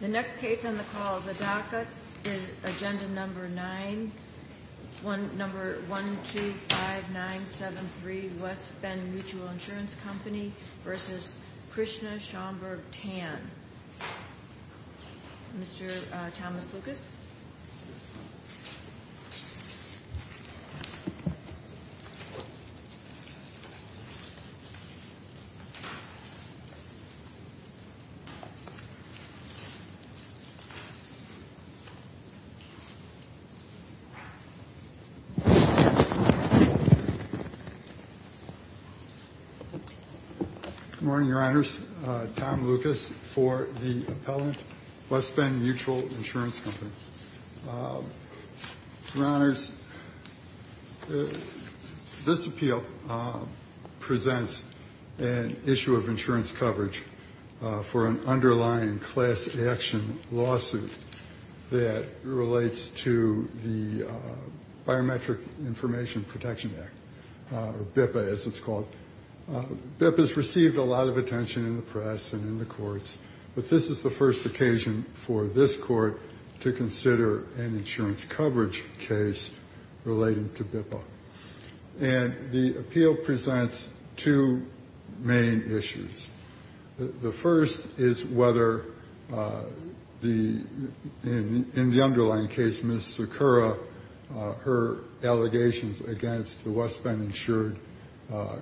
The next case on the call, the DACA, is Agenda Number 9-125973 West Bend Mutual Insurance Company v. Krishna Schaumburg Tan. Mr. Thomas Lucas. Good morning, Your Honors. Tom Lucas for the appellant, West Bend Mutual Insurance Company. Your Honors, this appeal presents an issue of insurance coverage for an underlying class action lawsuit that relates to the Biometric Information Protection Act, or BIPA as it's called. BIPA has received a lot of attention in the press and in the courts, but this is the first occasion for this Court to consider an insurance coverage case relating to BIPA. And the appeal presents two main issues. The first is whether, in the underlying case, Ms. Sakura, her allegations against the West Bend insured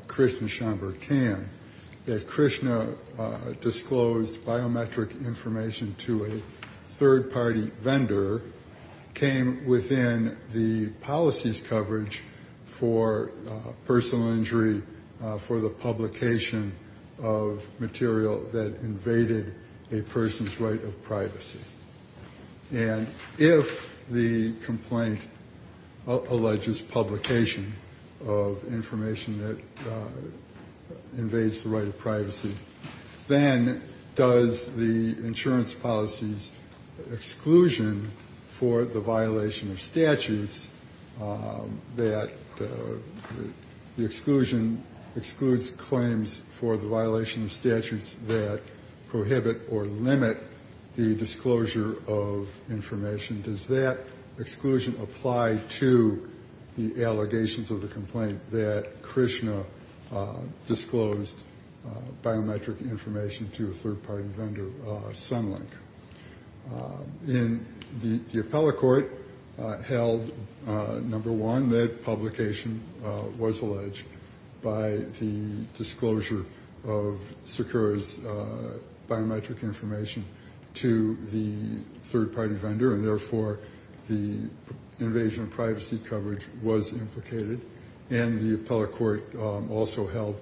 Krishna Schaumburg Tan, that Krishna disclosed biometric information to a third-party vendor, came within the policy's coverage for personal injury for the publication of material that invaded a person's right of privacy. And if the complaint alleges publication of information that invades the right of privacy, then does the insurance policy's exclusion for the violation of statutes, that the exclusion excludes claims for the violation of statutes that prohibit or limit the disclosure of information, does that exclusion apply to the allegations of the complaint that Krishna disclosed biometric information to a third-party vendor, Sunlink? And the appellate court held, number one, that publication was alleged by the disclosure of Sakura's biometric information to the third-party vendor, and therefore the invasion of privacy coverage was implicated. And the appellate court also held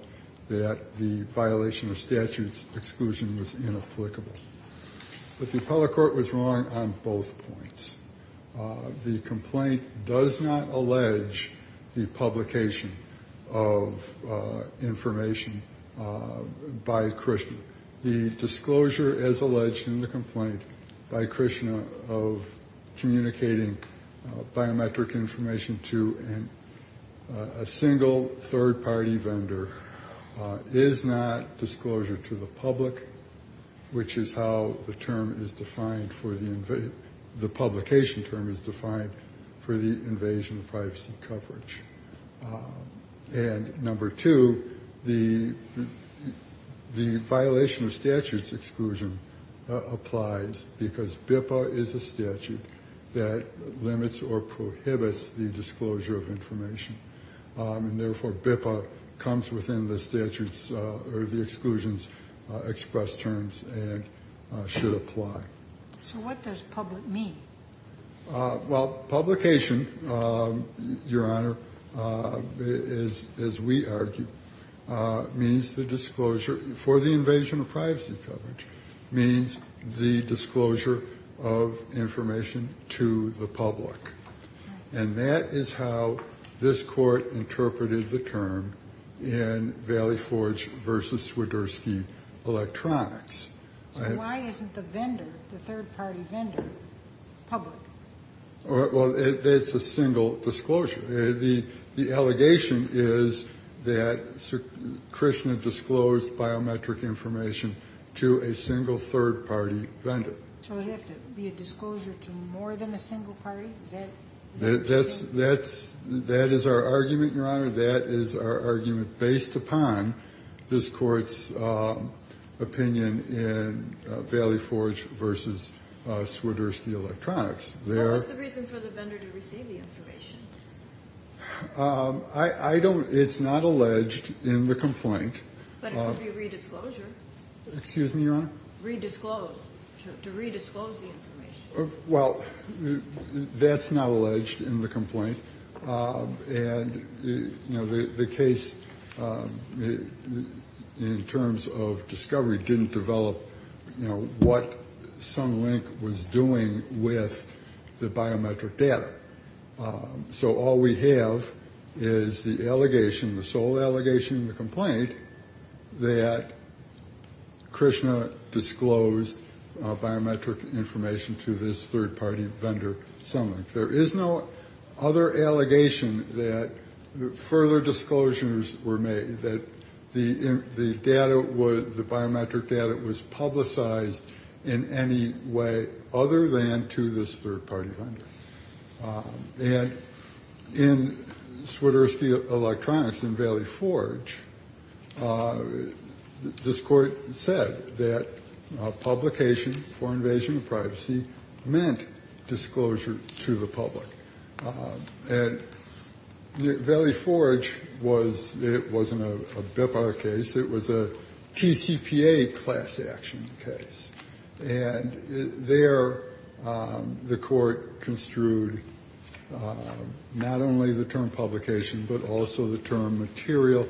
that the violation of statutes exclusion was inapplicable. But the appellate court was wrong on both points. The complaint does not allege the publication of information by Krishna. The disclosure, as alleged in the complaint by Krishna of communicating biometric information to a single third-party vendor, is not disclosure to the public, which is how the term is defined for the invasion, the publication term is defined for the invasion of privacy coverage. And number two, the violation of statutes exclusion applies because BIPA is a statute that limits or prohibits the disclosure of information, and therefore BIPA comes within the statutes or the exclusions express terms and should apply. So what does public mean? Well, publication, Your Honor, is, as we argue, means the disclosure for the invasion of privacy coverage means the disclosure of information to the public. And that is how this Court interpreted the term in Valley Forge v. Swiderski Electronics. So why isn't the vendor, the third-party vendor, public? Well, it's a single disclosure. The allegation is that Krishna disclosed biometric information to a single third-party vendor. So would it have to be a disclosure to more than a single party? Is that what you're saying? That is our argument, Your Honor. That is our argument based upon this Court's opinion in Valley Forge v. Swiderski Electronics. What was the reason for the vendor to receive the information? I don't – it's not alleged in the complaint. But it would be a redisclosure. Excuse me, Your Honor? Redisclose, to redisclose the information. Well, that's not alleged in the complaint. And the case in terms of discovery didn't develop what Sunlink was doing with the biometric data. So all we have is the allegation, the sole allegation in the complaint, that Krishna disclosed biometric information to this third-party vendor, Sunlink. There is no other allegation that further disclosures were made, that the data was – the biometric data was publicized in any way other than to this third-party vendor. And in Swiderski Electronics in Valley Forge, this Court said that publication for invasion of privacy meant disclosure to the public. And Valley Forge was – it wasn't a BIPOC case. It was a TCPA class action case. And there the Court construed not only the term publication, but also the term material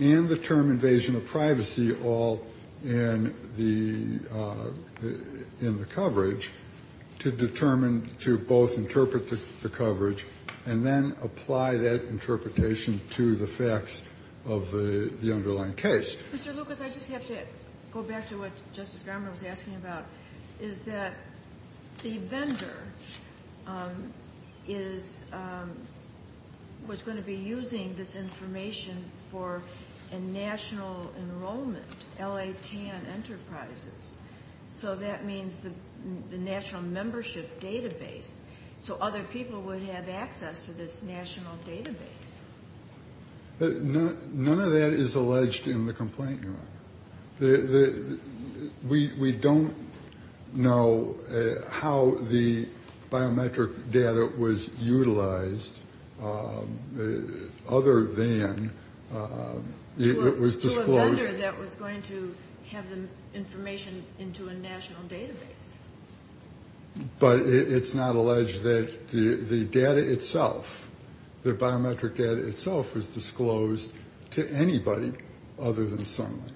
and the term invasion of privacy all in the – in the coverage to determine – to both interpret the coverage and then apply that interpretation to the facts of the underlying case. Mr. Lucas, I just have to go back to what Justice Garmer was asking about, is that the vendor is – was going to be using this information for a national enrollment, LATN Enterprises. So that means the national membership database. So other people would have access to this national database. None of that is alleged in the complaint, Your Honor. We don't know how the biometric data was utilized other than it was disclosed – To a vendor that was going to have the information into a national database. But it's not alleged that the data itself, the biometric data itself, was disclosed to anybody other than Sunlink.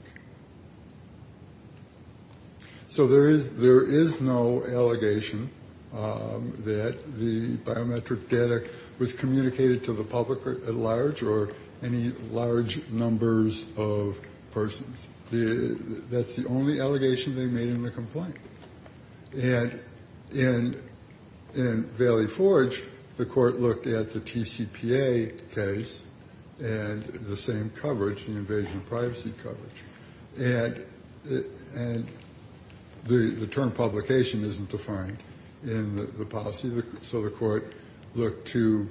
So there is – there is no allegation that the biometric data was communicated to the public at large or any large numbers of persons. That's the only allegation they made in the complaint. And in Valley Forge, the court looked at the TCPA case and the same coverage, the invasion of privacy coverage. And the term publication isn't defined in the policy. So the court looked to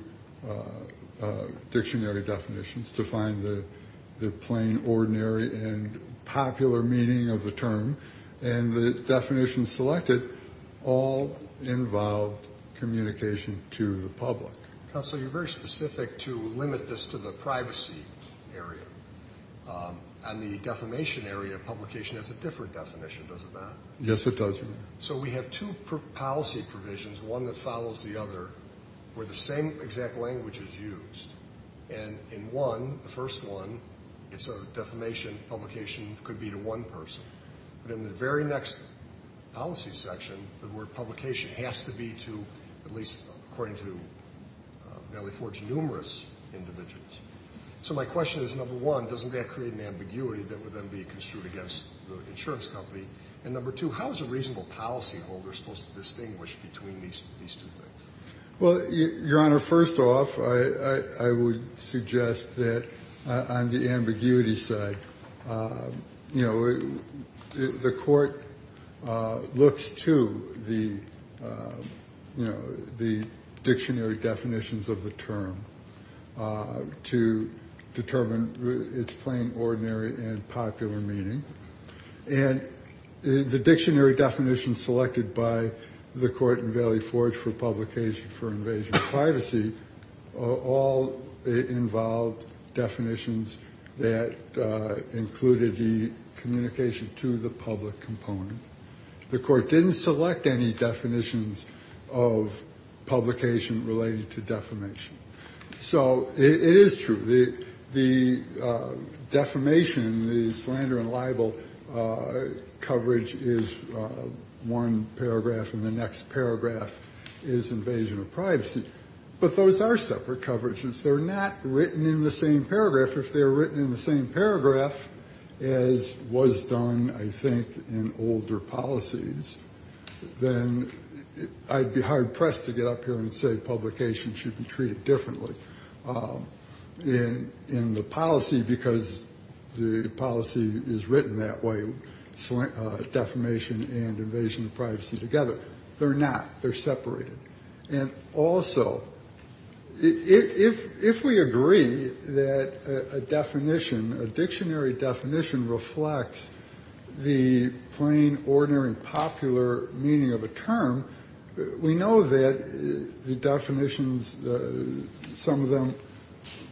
dictionary definitions to find the plain, ordinary, and popular meaning of the term. And the definitions selected all involved communication to the public. Counsel, you're very specific to limit this to the privacy area. On the defamation area, publication has a different definition, does it not? Yes, it does, Your Honor. So we have two policy provisions, one that follows the other, where the same exact language is used. And in one, the first one, it's a defamation, publication could be to one person. But in the very next policy section, the word publication has to be to at least, according to Valley Forge, numerous individuals. So my question is, number one, doesn't that create an ambiguity that would then be construed against the insurance company? And number two, how is a reasonable policyholder supposed to distinguish between these two things? Well, Your Honor, first off, I would suggest that on the ambiguity side, you know, the court looks to the, you know, the dictionary definitions of the term to determine its plain, ordinary, and popular meaning. And the dictionary definition selected by the court in Valley Forge for publication for invasion of privacy, all involved definitions that included the communication to the public component. The court didn't select any definitions of publication related to defamation. So it is true. The defamation, the slander and libel coverage is one paragraph, and the next paragraph is invasion of privacy. But those are separate coverages. They're not written in the same paragraph. If they're written in the same paragraph as was done, I think, in older policies, then I'd be hard pressed to get up here and say publication should be treated differently in the policy, because the policy is written that way, defamation and invasion of privacy together. They're not. They're separated. And also, if we agree that a definition, a dictionary definition reflects the plain, ordinary, and popular meaning of a term, we know that the definitions, some of them,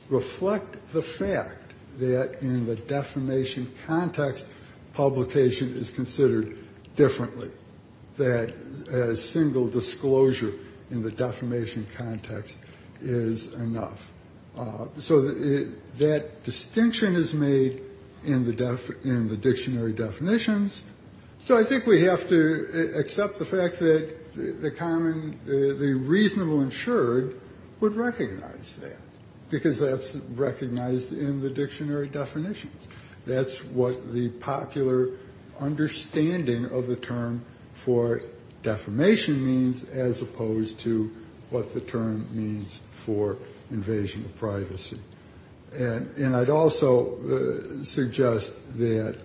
reflect the fact that in the defamation context, publication is considered differently, that a single disclosure in the defamation context is enough. So that distinction is made in the dictionary definitions. So I think we have to accept the fact that the common, the reasonable insured would recognize that, because that's recognized in the dictionary definitions. That's what the popular understanding of the term for defamation means, as opposed to what the term means for invasion of privacy. And I'd also suggest that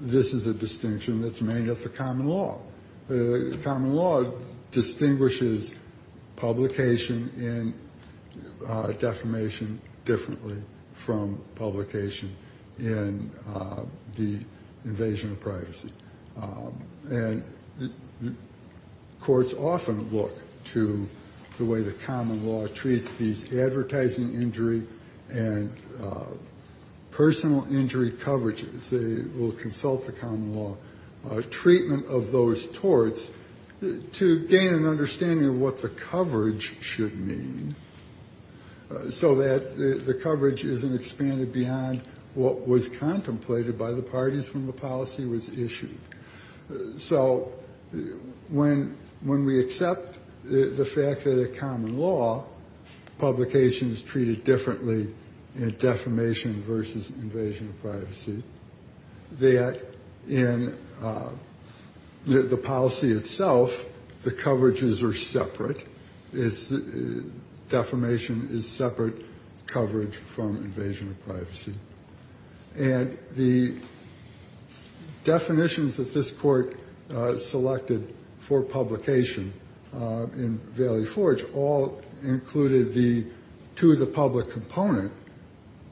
this is a distinction that's made of the common law. The common law distinguishes publication in defamation differently from publication in the invasion of privacy. And courts often look to the way the common law treats these advertising injury and personal injury coverages. They will consult the common law treatment of those torts to gain an understanding of what the coverage should mean, so that the coverage isn't expanded beyond what was contemplated by the parties when the policy was issued. So when when we accept the fact that a common law publication is treated differently in defamation versus invasion of privacy, that in the policy itself, the coverages are separate. It's defamation is separate coverage from invasion of privacy. And the definitions that this court selected for publication in Valley Forge all included the two of the public component.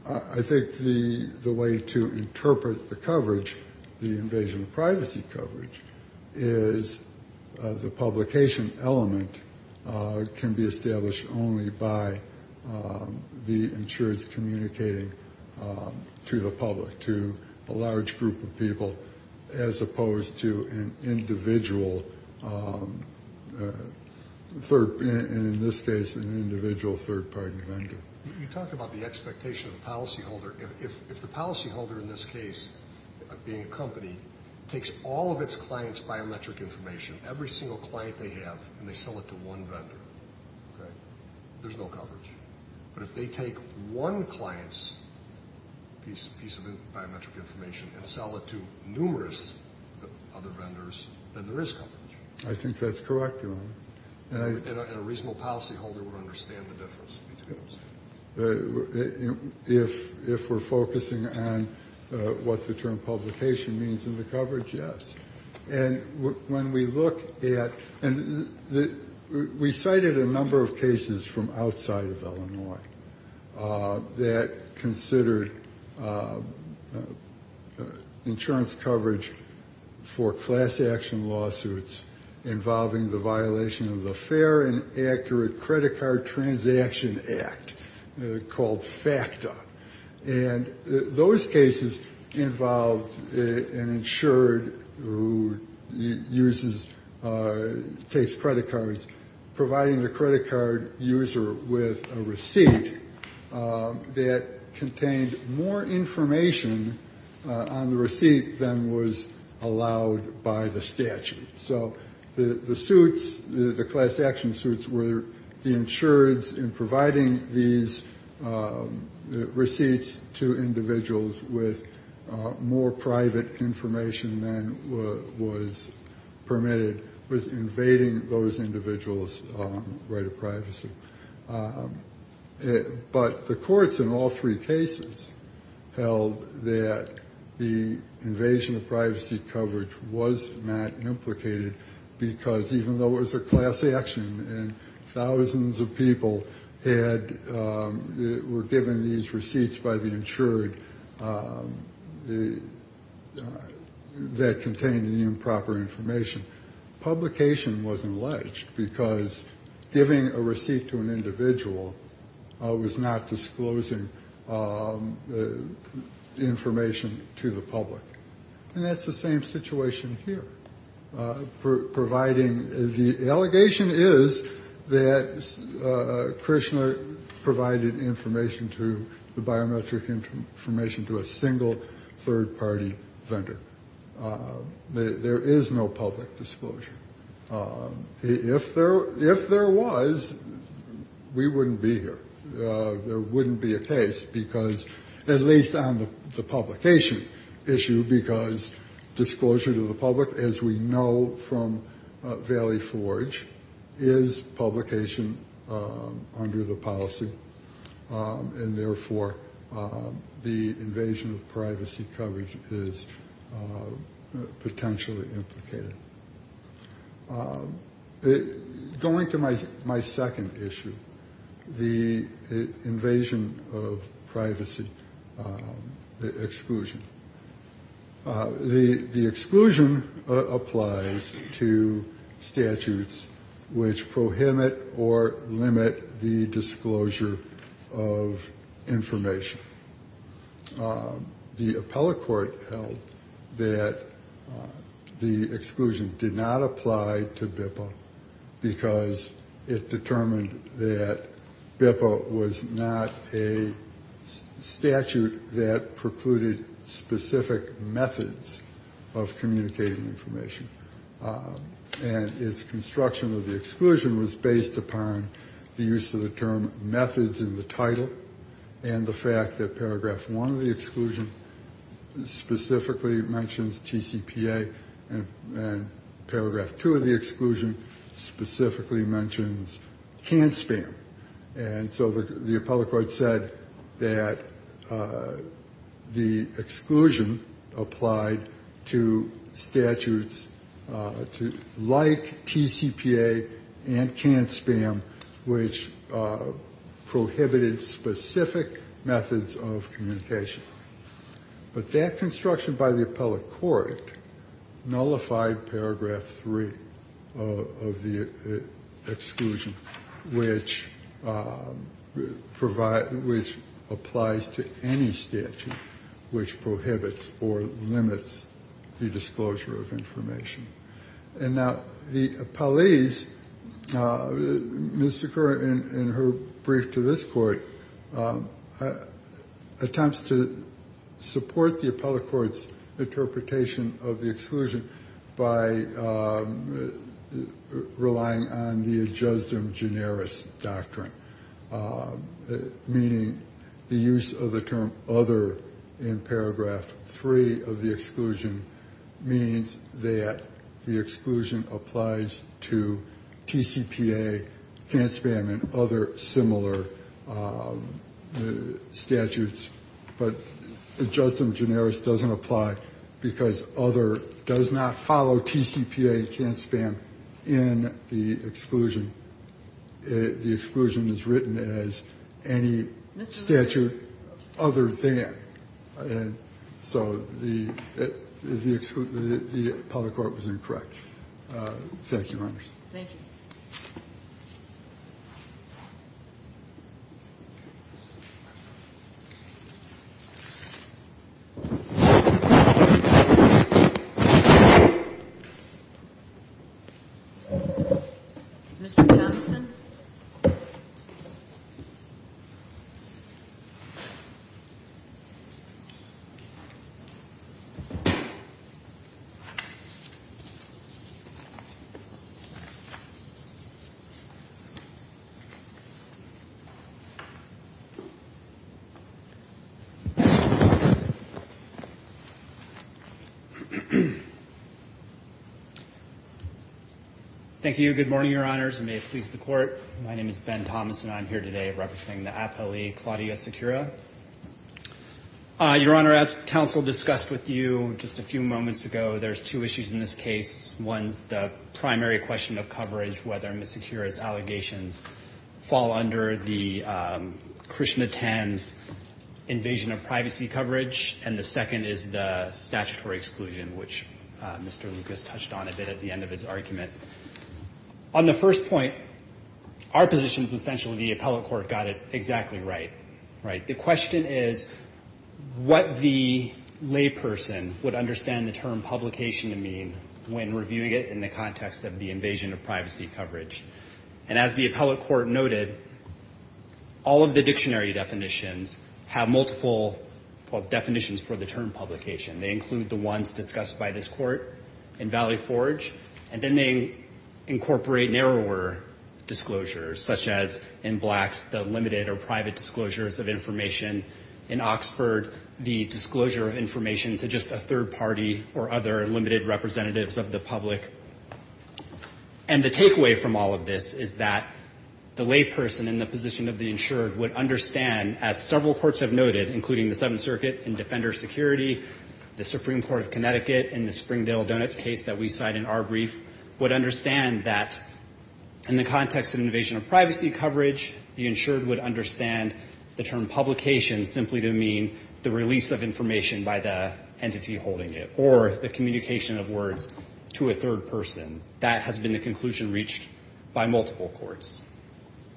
I think the way to interpret the coverage, the invasion of privacy coverage, is the publication element can be established only by the insurance communicating to the public, to a large group of people as opposed to an individual third, and in this case, an individual third party vendor. You talked about the expectation of the policyholder. If the policyholder in this case, being a company, takes all of its clients' biometric information, every single client they have, and they sell it to one vendor, there's no coverage. But if they take one client's piece of biometric information and sell it to numerous other vendors, then there is coverage. I think that's correct, Your Honor. And a reasonable policyholder would understand the difference between those. If we're focusing on what the term publication means in the coverage, yes. And when we look at the we cited a number of cases from outside of Illinois that considered insurance coverage for class action lawsuits involving the violation of the Fair and Accurate Credit Card Transaction Act, called FACTA. And those cases involved an insured who uses, takes credit cards, providing the credit card user with a receipt that contained more information on the receipt than was allowed by the statute. So the suits, the class action suits were the insureds in providing these receipts to individuals with more private information than was permitted, was invading those individuals' right of privacy. But the courts in all three cases held that the invasion of privacy coverage was not implicated because even though it was a class action and thousands of people were given these receipts by the insured that contained the improper information, publication wasn't alleged because giving a receipt to an individual was not disclosing information to the public. And that's the same situation here. Providing, the allegation is that Krishna provided information to, the biometric information to a single third party vendor. There is no public disclosure. If there was, we wouldn't be here. There wouldn't be a case because, at least on the publication issue, because disclosure to the public, as we know from Valley Forge, is publication under the policy. And therefore, the invasion of privacy coverage is potentially implicated. Going to my second issue, the invasion of privacy exclusion. The exclusion applies to statutes which prohibit or limit the disclosure of information. The appellate court held that the exclusion did not apply to BIPA because it determined that BIPA was not a statute that precluded specific methods of communicating information. And its construction of the exclusion was based upon the use of the term methods in the title and the fact that paragraph one of the exclusion specifically mentions TCPA and paragraph two of the exclusion specifically mentions can't spam. And so the appellate court said that the exclusion applied to statutes like TCPA and can't spam, which prohibited specific methods of communication. But that construction by the appellate court nullified paragraph three of the exclusion, which applies to any statute which prohibits or limits the disclosure of information. And now the appellees, Ms. Zucker in her brief to this Court, attempts to support the appellate court's interpretation of the exclusion by relying on the ad justum generis doctrine, meaning the use of the term other in paragraph three of the exclusion means that the exclusion applies to TCPA, can't spam, and other similar statutes. But ad justum generis doesn't apply because other does not follow TCPA and can't spam in the exclusion. The exclusion is written as any statute other than. And so the appellate court was incorrect. Thank you, Your Honor. Thank you. Mr. Thomson. Thank you. Good morning, Your Honors, and may it please the Court. My name is Ben Thomson. I'm here today representing the appellee, Claudia Secura. Your Honor, as counsel discussed with you just a few moments ago, there's two issues in this case. One's the primary question of coverage, whether Ms. Secura's allegations fall under the Christiana Tan's invasion of privacy coverage, and the second is the statutory exclusion, which Mr. Lucas touched on a bit at the end of his argument. On the first point, our position is essentially the appellate court got it exactly right, right? The question is what the layperson would understand the term publication to mean when reviewing it in the context of the invasion of privacy coverage. And as the appellate court noted, all of the dictionary definitions have multiple definitions for the term publication. They include the ones discussed by this Court in Valley Forge, and then they incorporate narrower disclosures, such as in Blacks, the limited or private disclosures of information. In Oxford, the disclosure of information to just a third party or other limited representatives of the public. And the takeaway from all of this is that the layperson in the position of the insured would understand, as several courts have noted, including the Seventh Circuit in Defender Security, the Supreme Court of Connecticut in the Springdale Donuts case that we cite in our brief, would understand that in the context of invasion of privacy coverage, the insured would understand the term publication simply to mean the release of information by the entity holding it, or the individual holding it, by multiple courts.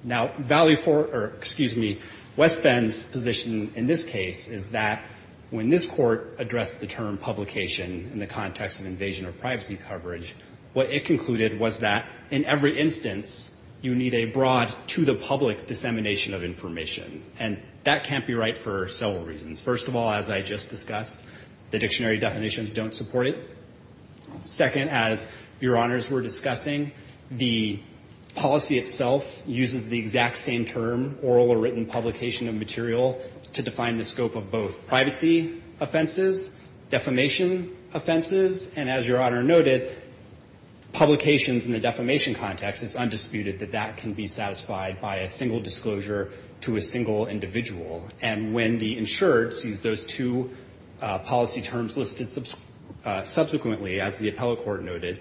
Now, Valley Forge, or excuse me, West Bend's position in this case is that when this court addressed the term publication in the context of invasion of privacy coverage, what it concluded was that in every instance, you need a broad to the public dissemination of information. And that can't be right for several reasons. First of all, as I just discussed, the dictionary definitions don't support it. Second, as Your Honors were discussing, the policy itself uses the exact same term, oral or written publication of material, to define the scope of both privacy offenses, defamation offenses, and as Your Honor noted, publications in the defamation context, it's undisputed that that can be satisfied by a single disclosure to a single individual. And when the insured sees those two policy terms listed subsequently, as the appellate court noted,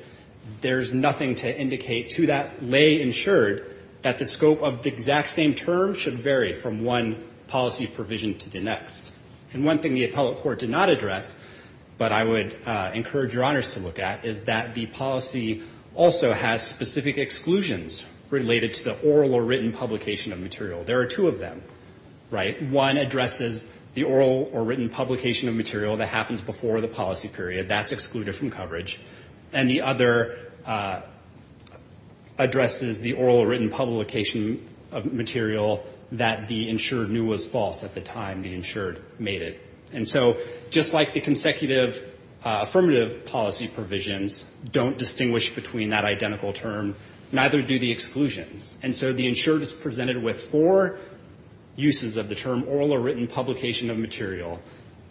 there's nothing to indicate to that lay insured that the scope of the exact same term should vary from one policy provision to the next. And one thing the appellate court did not address, but I would encourage Your Honors to look at, is that the policy also has specific exclusions related to the oral or written publication of material. There are two of them, right? One addresses the oral or written publication of material that happens before the policy period, that's excluded from coverage. And the other addresses the oral or written publication of material that the insured knew was false at the time the insured made it. And so just like the consecutive affirmative policy provisions don't distinguish between that identical term, neither do the exclusions. And so the insured is presented with four uses of the term oral or written publication of material, and one of them is oral or written publication of material.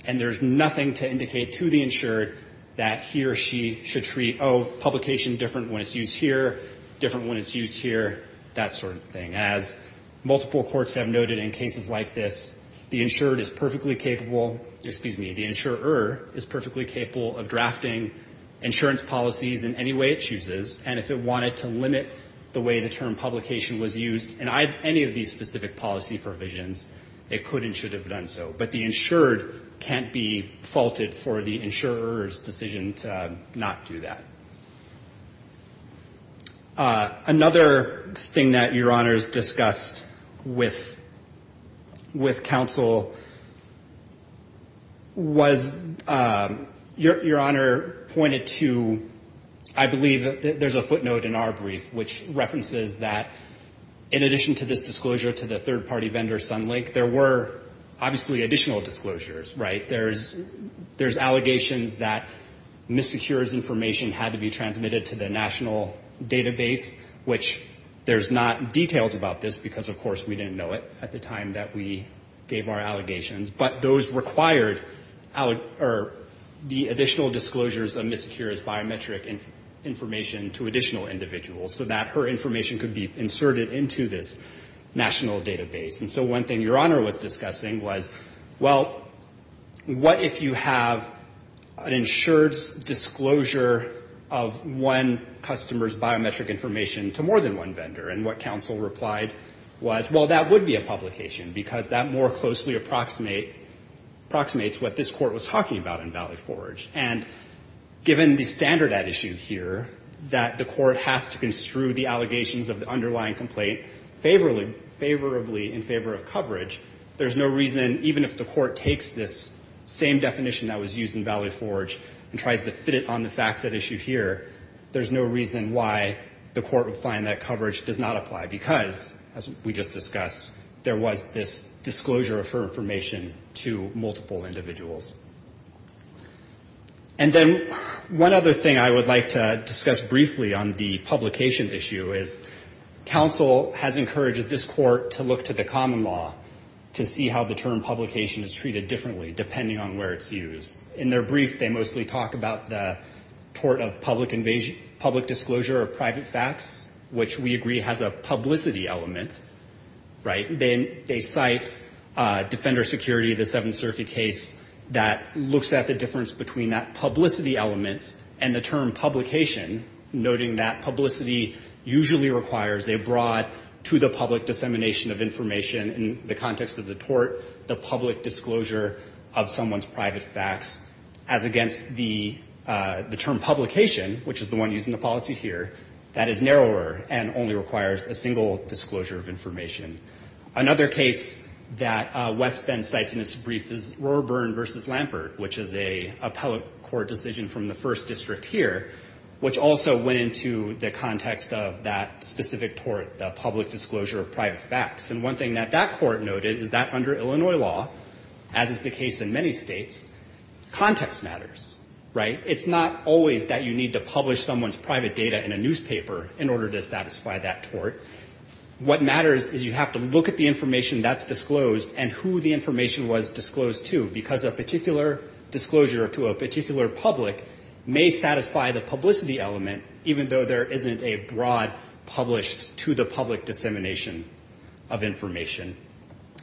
And there's nothing to indicate to the insured that he or she should treat, oh, publication different when it's used here, different when it's used here, that sort of thing. As multiple courts have noted in cases like this, the insured is perfectly capable, excuse me, the insurer is perfectly capable of drafting insurance policies in any way it chooses, and if it wanted to limit the way the term publication was used in any of these specific policy provisions, it could and should have done so. But the insured can't be faulted for the insurer's decision to not do that. Another thing that Your Honors discussed with counsel was, Your Honor pointed to, I believe there's a footnote in our brief, which references that in addition to this disclosure to the third-party vendor, Sunlink, there were obviously additional disclosures, right? There's allegations that MISECURE's information had to be transmitted to the national database, which there's not details about this because, of course, we didn't know it at the time that we gave our allegations, but those required the additional disclosures of MISECURE's biometric information to additional individuals. So that her information could be inserted into this national database. And so one thing Your Honor was discussing was, well, what if you have an insured's disclosure of one customer's biometric information to more than one vendor? And what counsel replied was, well, that would be a publication, because that more closely approximates what this court was talking about in Valley Forge. And so if MISECURE can extrude the allegations of the underlying complaint favorably in favor of coverage, there's no reason, even if the court takes this same definition that was used in Valley Forge and tries to fit it on the facts that issue here, there's no reason why the court would find that coverage does not apply. Because, as we just discussed, there was this disclosure of her information to multiple individuals. And then one other thing I would like to discuss briefly on the publication issue is, counsel has encouraged this court to look to the common law to see how the term publication is treated differently, depending on where it's used. In their brief, they mostly talk about the tort of public disclosure of private facts, which we agree has a publicity element, right? They cite Defender Security, the Seventh Circuit case, the fact that MISECURE's disclosure of public information that looks at the difference between that publicity element and the term publication, noting that publicity usually requires a broad, to the public, dissemination of information in the context of the tort, the public disclosure of someone's private facts, as against the term publication, which is the one used in the policy here, that is narrower and narrower than the term publication. Another case that West Bend cites in its brief is Roarburn v. Lampert, which is a appellate court decision from the First District here, which also went into the context of that specific tort, the public disclosure of private facts. And one thing that that court noted is that under Illinois law, as is the case in many states, context matters, right? It's not always that you need to publish someone's private data in a newspaper in order to have to look at the information that's disclosed and who the information was disclosed to, because a particular disclosure to a particular public may satisfy the publicity element, even though there isn't a broad published, to the public, dissemination of information.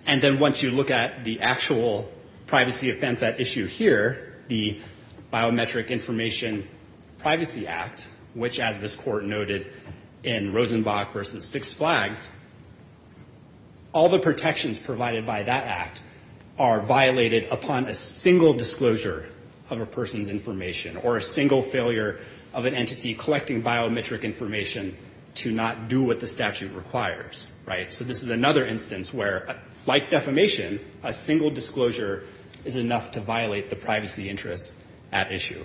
And then once you look at the actual privacy offense at issue here, the Biometric Information Privacy Act, which, as this court noted in Rosenbach v. Six Flags, does not have a broad disclosure, all the protections provided by that act are violated upon a single disclosure of a person's information or a single failure of an entity collecting biometric information to not do what the statute requires, right? So this is another instance where, like defamation, a single disclosure is enough to violate the privacy interests at issue.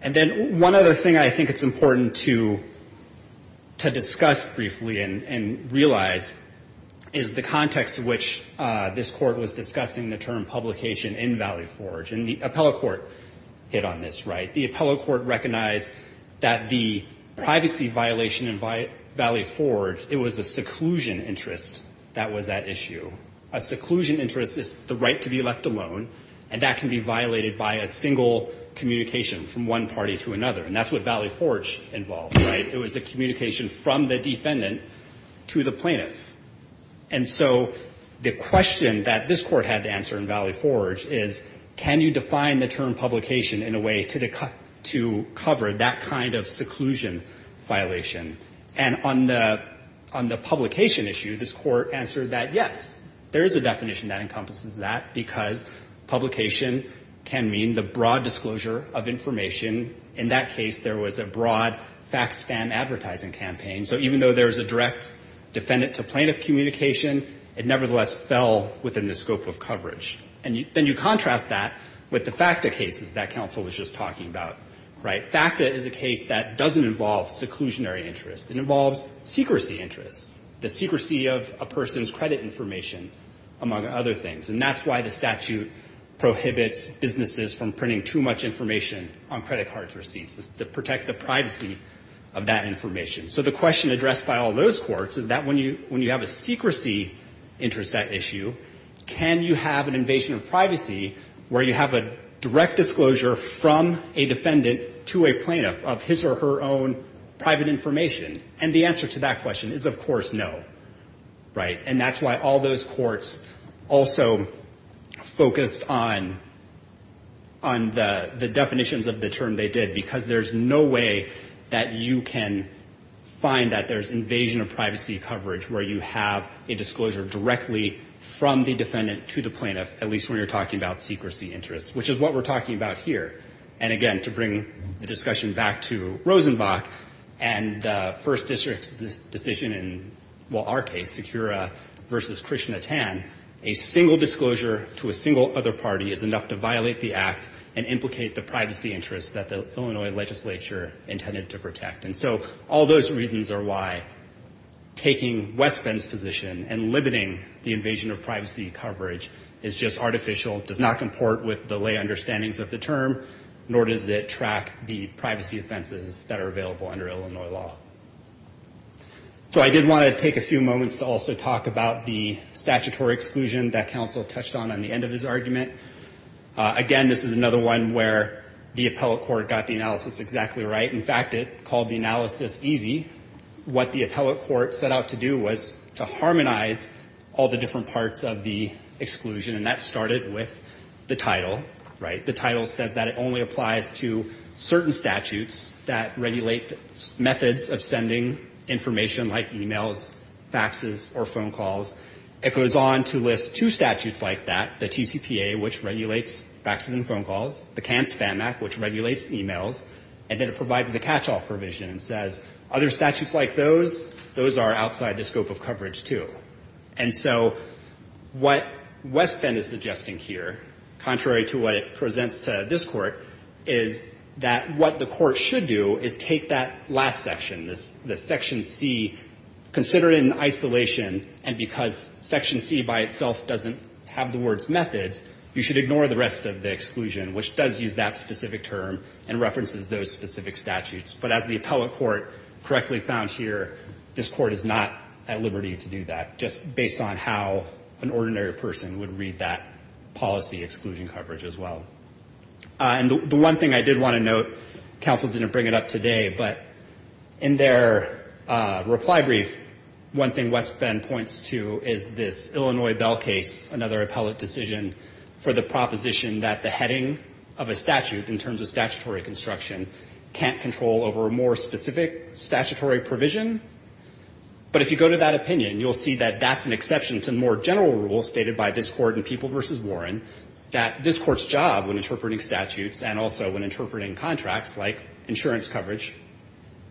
And then one other thing I think it's important to discuss briefly and realize is the context in which this court was discussing the term publication in Valley Forge. And the appellate court hit on this, right? The appellate court recognized that the privacy violation in Valley Forge, it was a seclusion interest that was at issue. A seclusion is a communication from one party to another. And that's what Valley Forge involved, right? It was a communication from the defendant to the plaintiff. And so the question that this court had to answer in Valley Forge is, can you define the term publication in a way to cover that kind of seclusion violation? And on the publication issue, this court answered that yes, there is a definition that encompasses that, because publication can mean the broad disclosure of a person's information. In that case, there was a broad fax-spam advertising campaign. So even though there was a direct defendant to plaintiff communication, it nevertheless fell within the scope of coverage. And then you contrast that with the FACTA cases that counsel was just talking about, right? FACTA is a case that doesn't involve seclusionary interest. It involves secrecy interest, the secrecy of a person's credit information, among other things. And that's why the statute prohibits businesses from printing too much information on credit card receipts, is to protect the privacy of that information. So the question addressed by all those courts is that when you have a secrecy interest at issue, can you have an invasion of privacy where you have a direct disclosure from a defendant to a plaintiff of his or her own private information? And the answer to that question is, of course, no, right? And that's why all those courts also focused on, you know, privacy on the definitions of the term they did, because there's no way that you can find that there's invasion of privacy coverage where you have a disclosure directly from the defendant to the plaintiff, at least when you're talking about secrecy interest, which is what we're talking about here. And again, to bring the discussion back to Rosenbach and the First District's decision in, well, our case, Secura v. Krishnatan, a single disclosure to a single other party is enough to violate the act and implicate the privacy interest that the Illinois legislature intended to protect. And so all those reasons are why taking West Bend's position and limiting the invasion of privacy coverage is just artificial, does not comport with the lay understandings of the term, nor does it track the privacy offenses that are available under Illinois law. So I did want to take a few moments to also talk about the statutory exclusion that counsel touched on at the end of his argument. Again, this is another one where the appellate court got the analysis exactly right. In fact, it called the analysis easy. What the appellate court set out to do was to harmonize all the different parts of the exclusion, and that started with the title, right? The title said that it only applies to certain statutes that regulate methods of sending information like e-mails, faxes, or phone calls. It goes on to list two statutes like that, the TCPA and the TCR, which regulates faxes and phone calls, the CAN-SPAM Act, which regulates e-mails, and then it provides the catch-all provision and says other statutes like those, those are outside the scope of coverage, too. And so what West Bend is suggesting here, contrary to what it presents to this Court, is that what the Court should do is take that last section, this Section C, consider it in isolation, and because Section C by itself doesn't have the words methods, you should ignore the rest of the exclusion, which does use that specific term and references those specific statutes. But as the appellate court correctly found here, this Court is not at liberty to do that, just based on how an ordinary person would read that policy exclusion coverage as well. And the one thing I did want to note, counsel didn't bring it up today, but in their reply brief, one thing West Bend points to is this Illinois Bell case, another appellate decision for the proposition that the heading of a statute in terms of statutory construction can't control over a more specific statutory provision. But if you go to that opinion, you'll see that that's an exception to more general rules stated by this Court in People v. Warren, that this Court's job when interpreting statutes and also when interpreting contracts, like insurance coverage,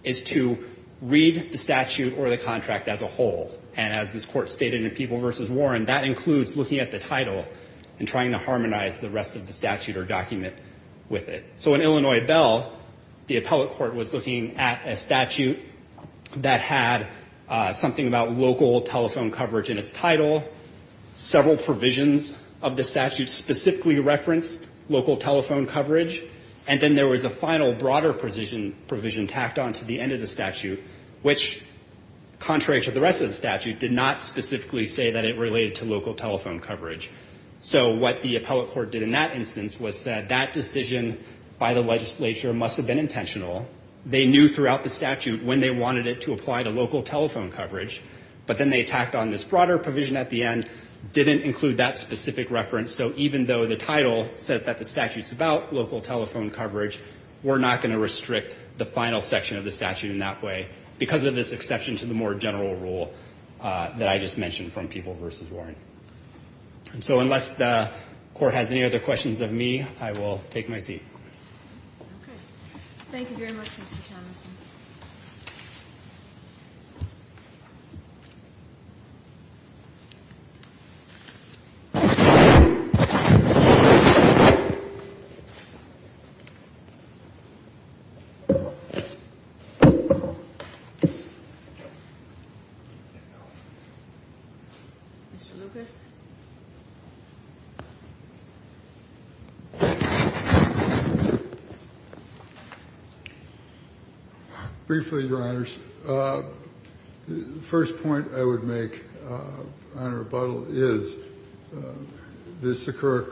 is to read the statute. And as this Court stated in People v. Warren, that includes looking at the title and trying to harmonize the rest of the statute or document with it. So in Illinois Bell, the appellate court was looking at a statute that had something about local telephone coverage in its title, several provisions of the statute specifically referenced local telephone coverage, and then there was a final broader provision tacked on to the end of the statute, which, contrary to the rest of the statute, did not specifically say that it related to local telephone coverage. So what the appellate court did in that instance was said, that decision by the legislature must have been intentional. They knew throughout the statute when they wanted it to apply to local telephone coverage, but then they tacked on this broader provision at the end, didn't include that specific reference. So even though the title said that the statute's about local telephone coverage, we're not going to restrict the final section of the statute in that way because of this exception to the more general rule that I just mentioned from People v. Warren. So unless the Court has any other questions of me, I will take my seat. Mr. Lucas? Briefly, Your Honors, the first point I would make on rebuttal is, this Sikora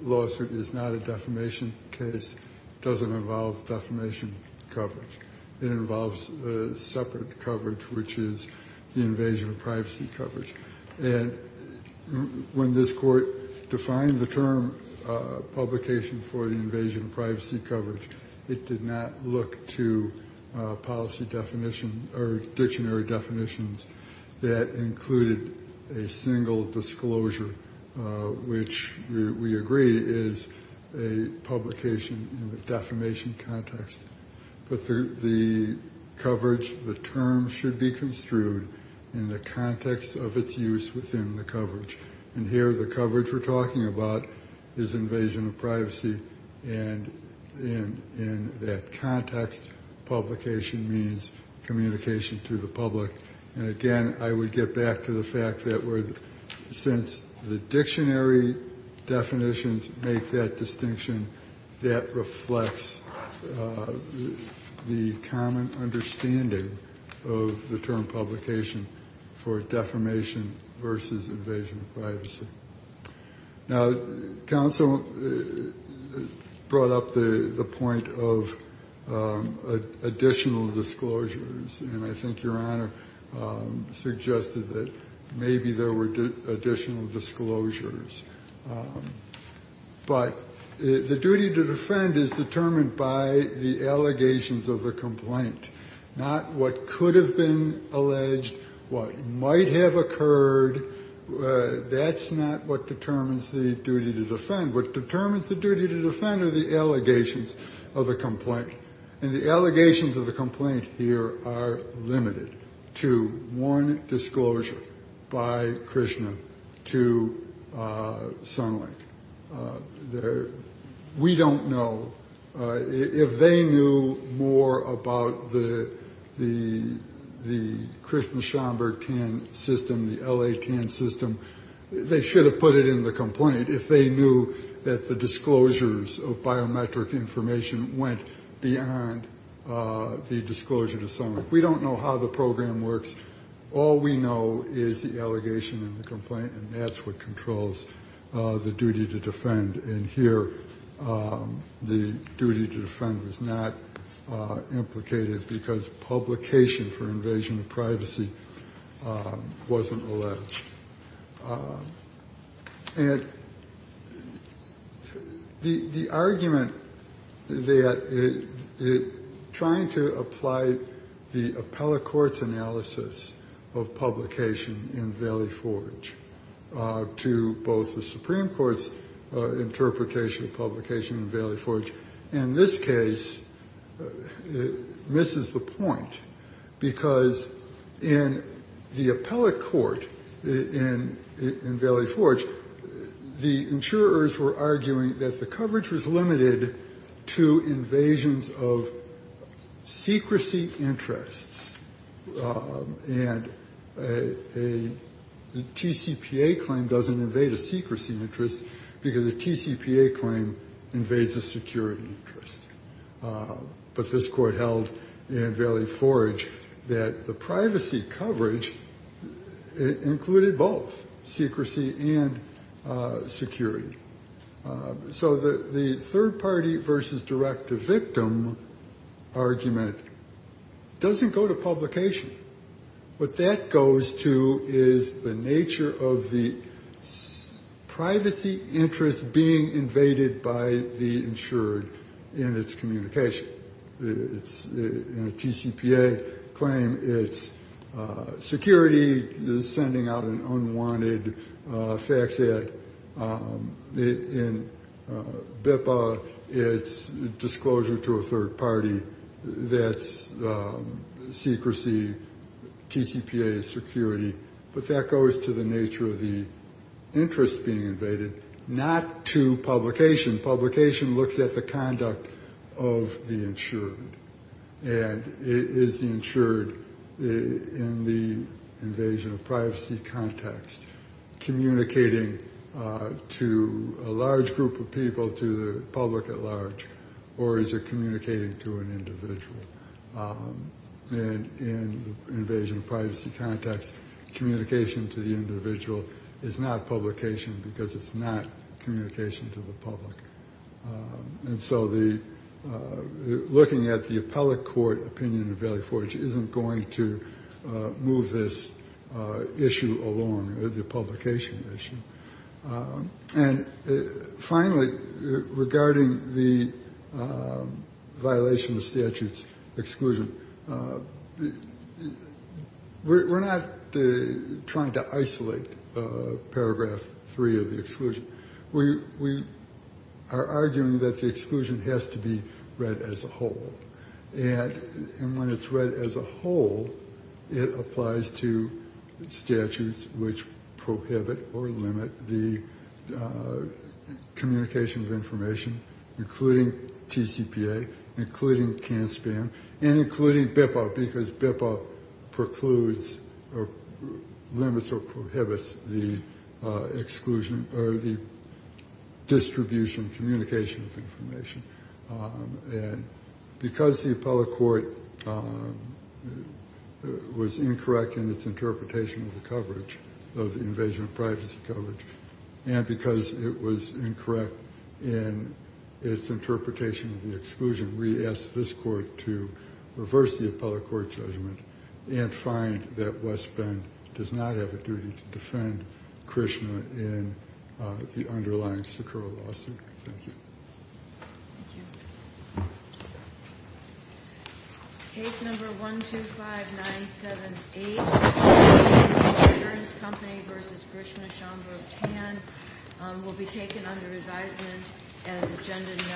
lawsuit is not a defamation case. It doesn't involve defamation coverage. It involves separate coverage, which is, you know, defamation coverage. It's the invasion of privacy coverage. And when this Court defined the term, publication for the invasion of privacy coverage, it did not look to policy definition or dictionary definitions that included a single disclosure, which we agree is a publication in the defamation context. But the coverage, the term should be construed as a defamation coverage. It should be construed in the context of its use within the coverage. And here, the coverage we're talking about is invasion of privacy. And in that context, publication means communication to the public. And again, I would get back to the fact that we're, since the dictionary definitions make that distinction, that reflects the common understanding of the term publication for defamation versus invasion of privacy. Now, counsel brought up the point of additional disclosures. And I think Your Honor suggested that maybe there were additional disclosures. But the duty to defend is determined by the allegations of the complaint. And the allegations of the complaint here are limited to one, disclosure by Krishna to Sunlink. We don't know if they knew more about the Krishna Schomburg TAN system, the L.A. TAN system. They should have put it in the complaint if they knew that the disclosures of biometric information went beyond the disclosure to Sunlink. We don't know how the program works. All we know is the allegation and the complaint. And that's what controls the duty to defend. And here, the duty to defend was not implicated because publication for invasion of privacy wasn't alleged. And the argument that trying to apply the appellate court's analysis of publication in Valley Forge to both the Supreme Court's interpretation of publication in Valley Forge, in this case, misses the point. Because in the appellate court in Valley Forge, the insurers were arguing that the coverage was limited to invasions of secrecy interests. And a TCPA claim doesn't invade a secrecy interest because a TCPA claim invades a security interest. But this court held in Valley Forge that the privacy coverage included both, secrecy and security. So the third-party versus direct-to-victim argument doesn't go to publication. What that goes to is the nature of the information. And the third-party argument is the nature of the privacy interest being invaded by the insured in its communication. In a TCPA claim, it's security sending out an unwanted fax ad. In BIPA, it's disclosure to a third-party. That's secrecy. TCPA is the nature of the interest being invaded, not to publication. Publication looks at the conduct of the insured. And is the insured, in the invasion of privacy context, communicating to a large group of people, to the public at large? Or is it communicating to an individual? And in the invasion of privacy context, communication to the individual is the public. And so looking at the appellate court opinion in Valley Forge isn't going to move this issue along, the publication issue. And finally, regarding the violation of statutes exclusion, we're not trying to isolate the exclusion. We are arguing that the exclusion has to be read as a whole. And when it's read as a whole, it applies to statutes which prohibit or limit the communication of information, including TCPA, including CAN-SPAN, and including BIPA, because BIPA precludes or limits or prohibits the use of statutes. And so we're not trying to isolate the exclusion or the distribution, communication of information. And because the appellate court was incorrect in its interpretation of the coverage, of the invasion of privacy coverage, and because it was incorrect in its interpretation of the exclusion, we ask this court to reverse the appellate court judgment and find that West Bend does not have a duty to defend Krishna in the underlying Sakuro lawsuit. Thank you. Case number 125978, Insurance Company v. Krishna Chandra Pan, will be taken under advisement as agenda number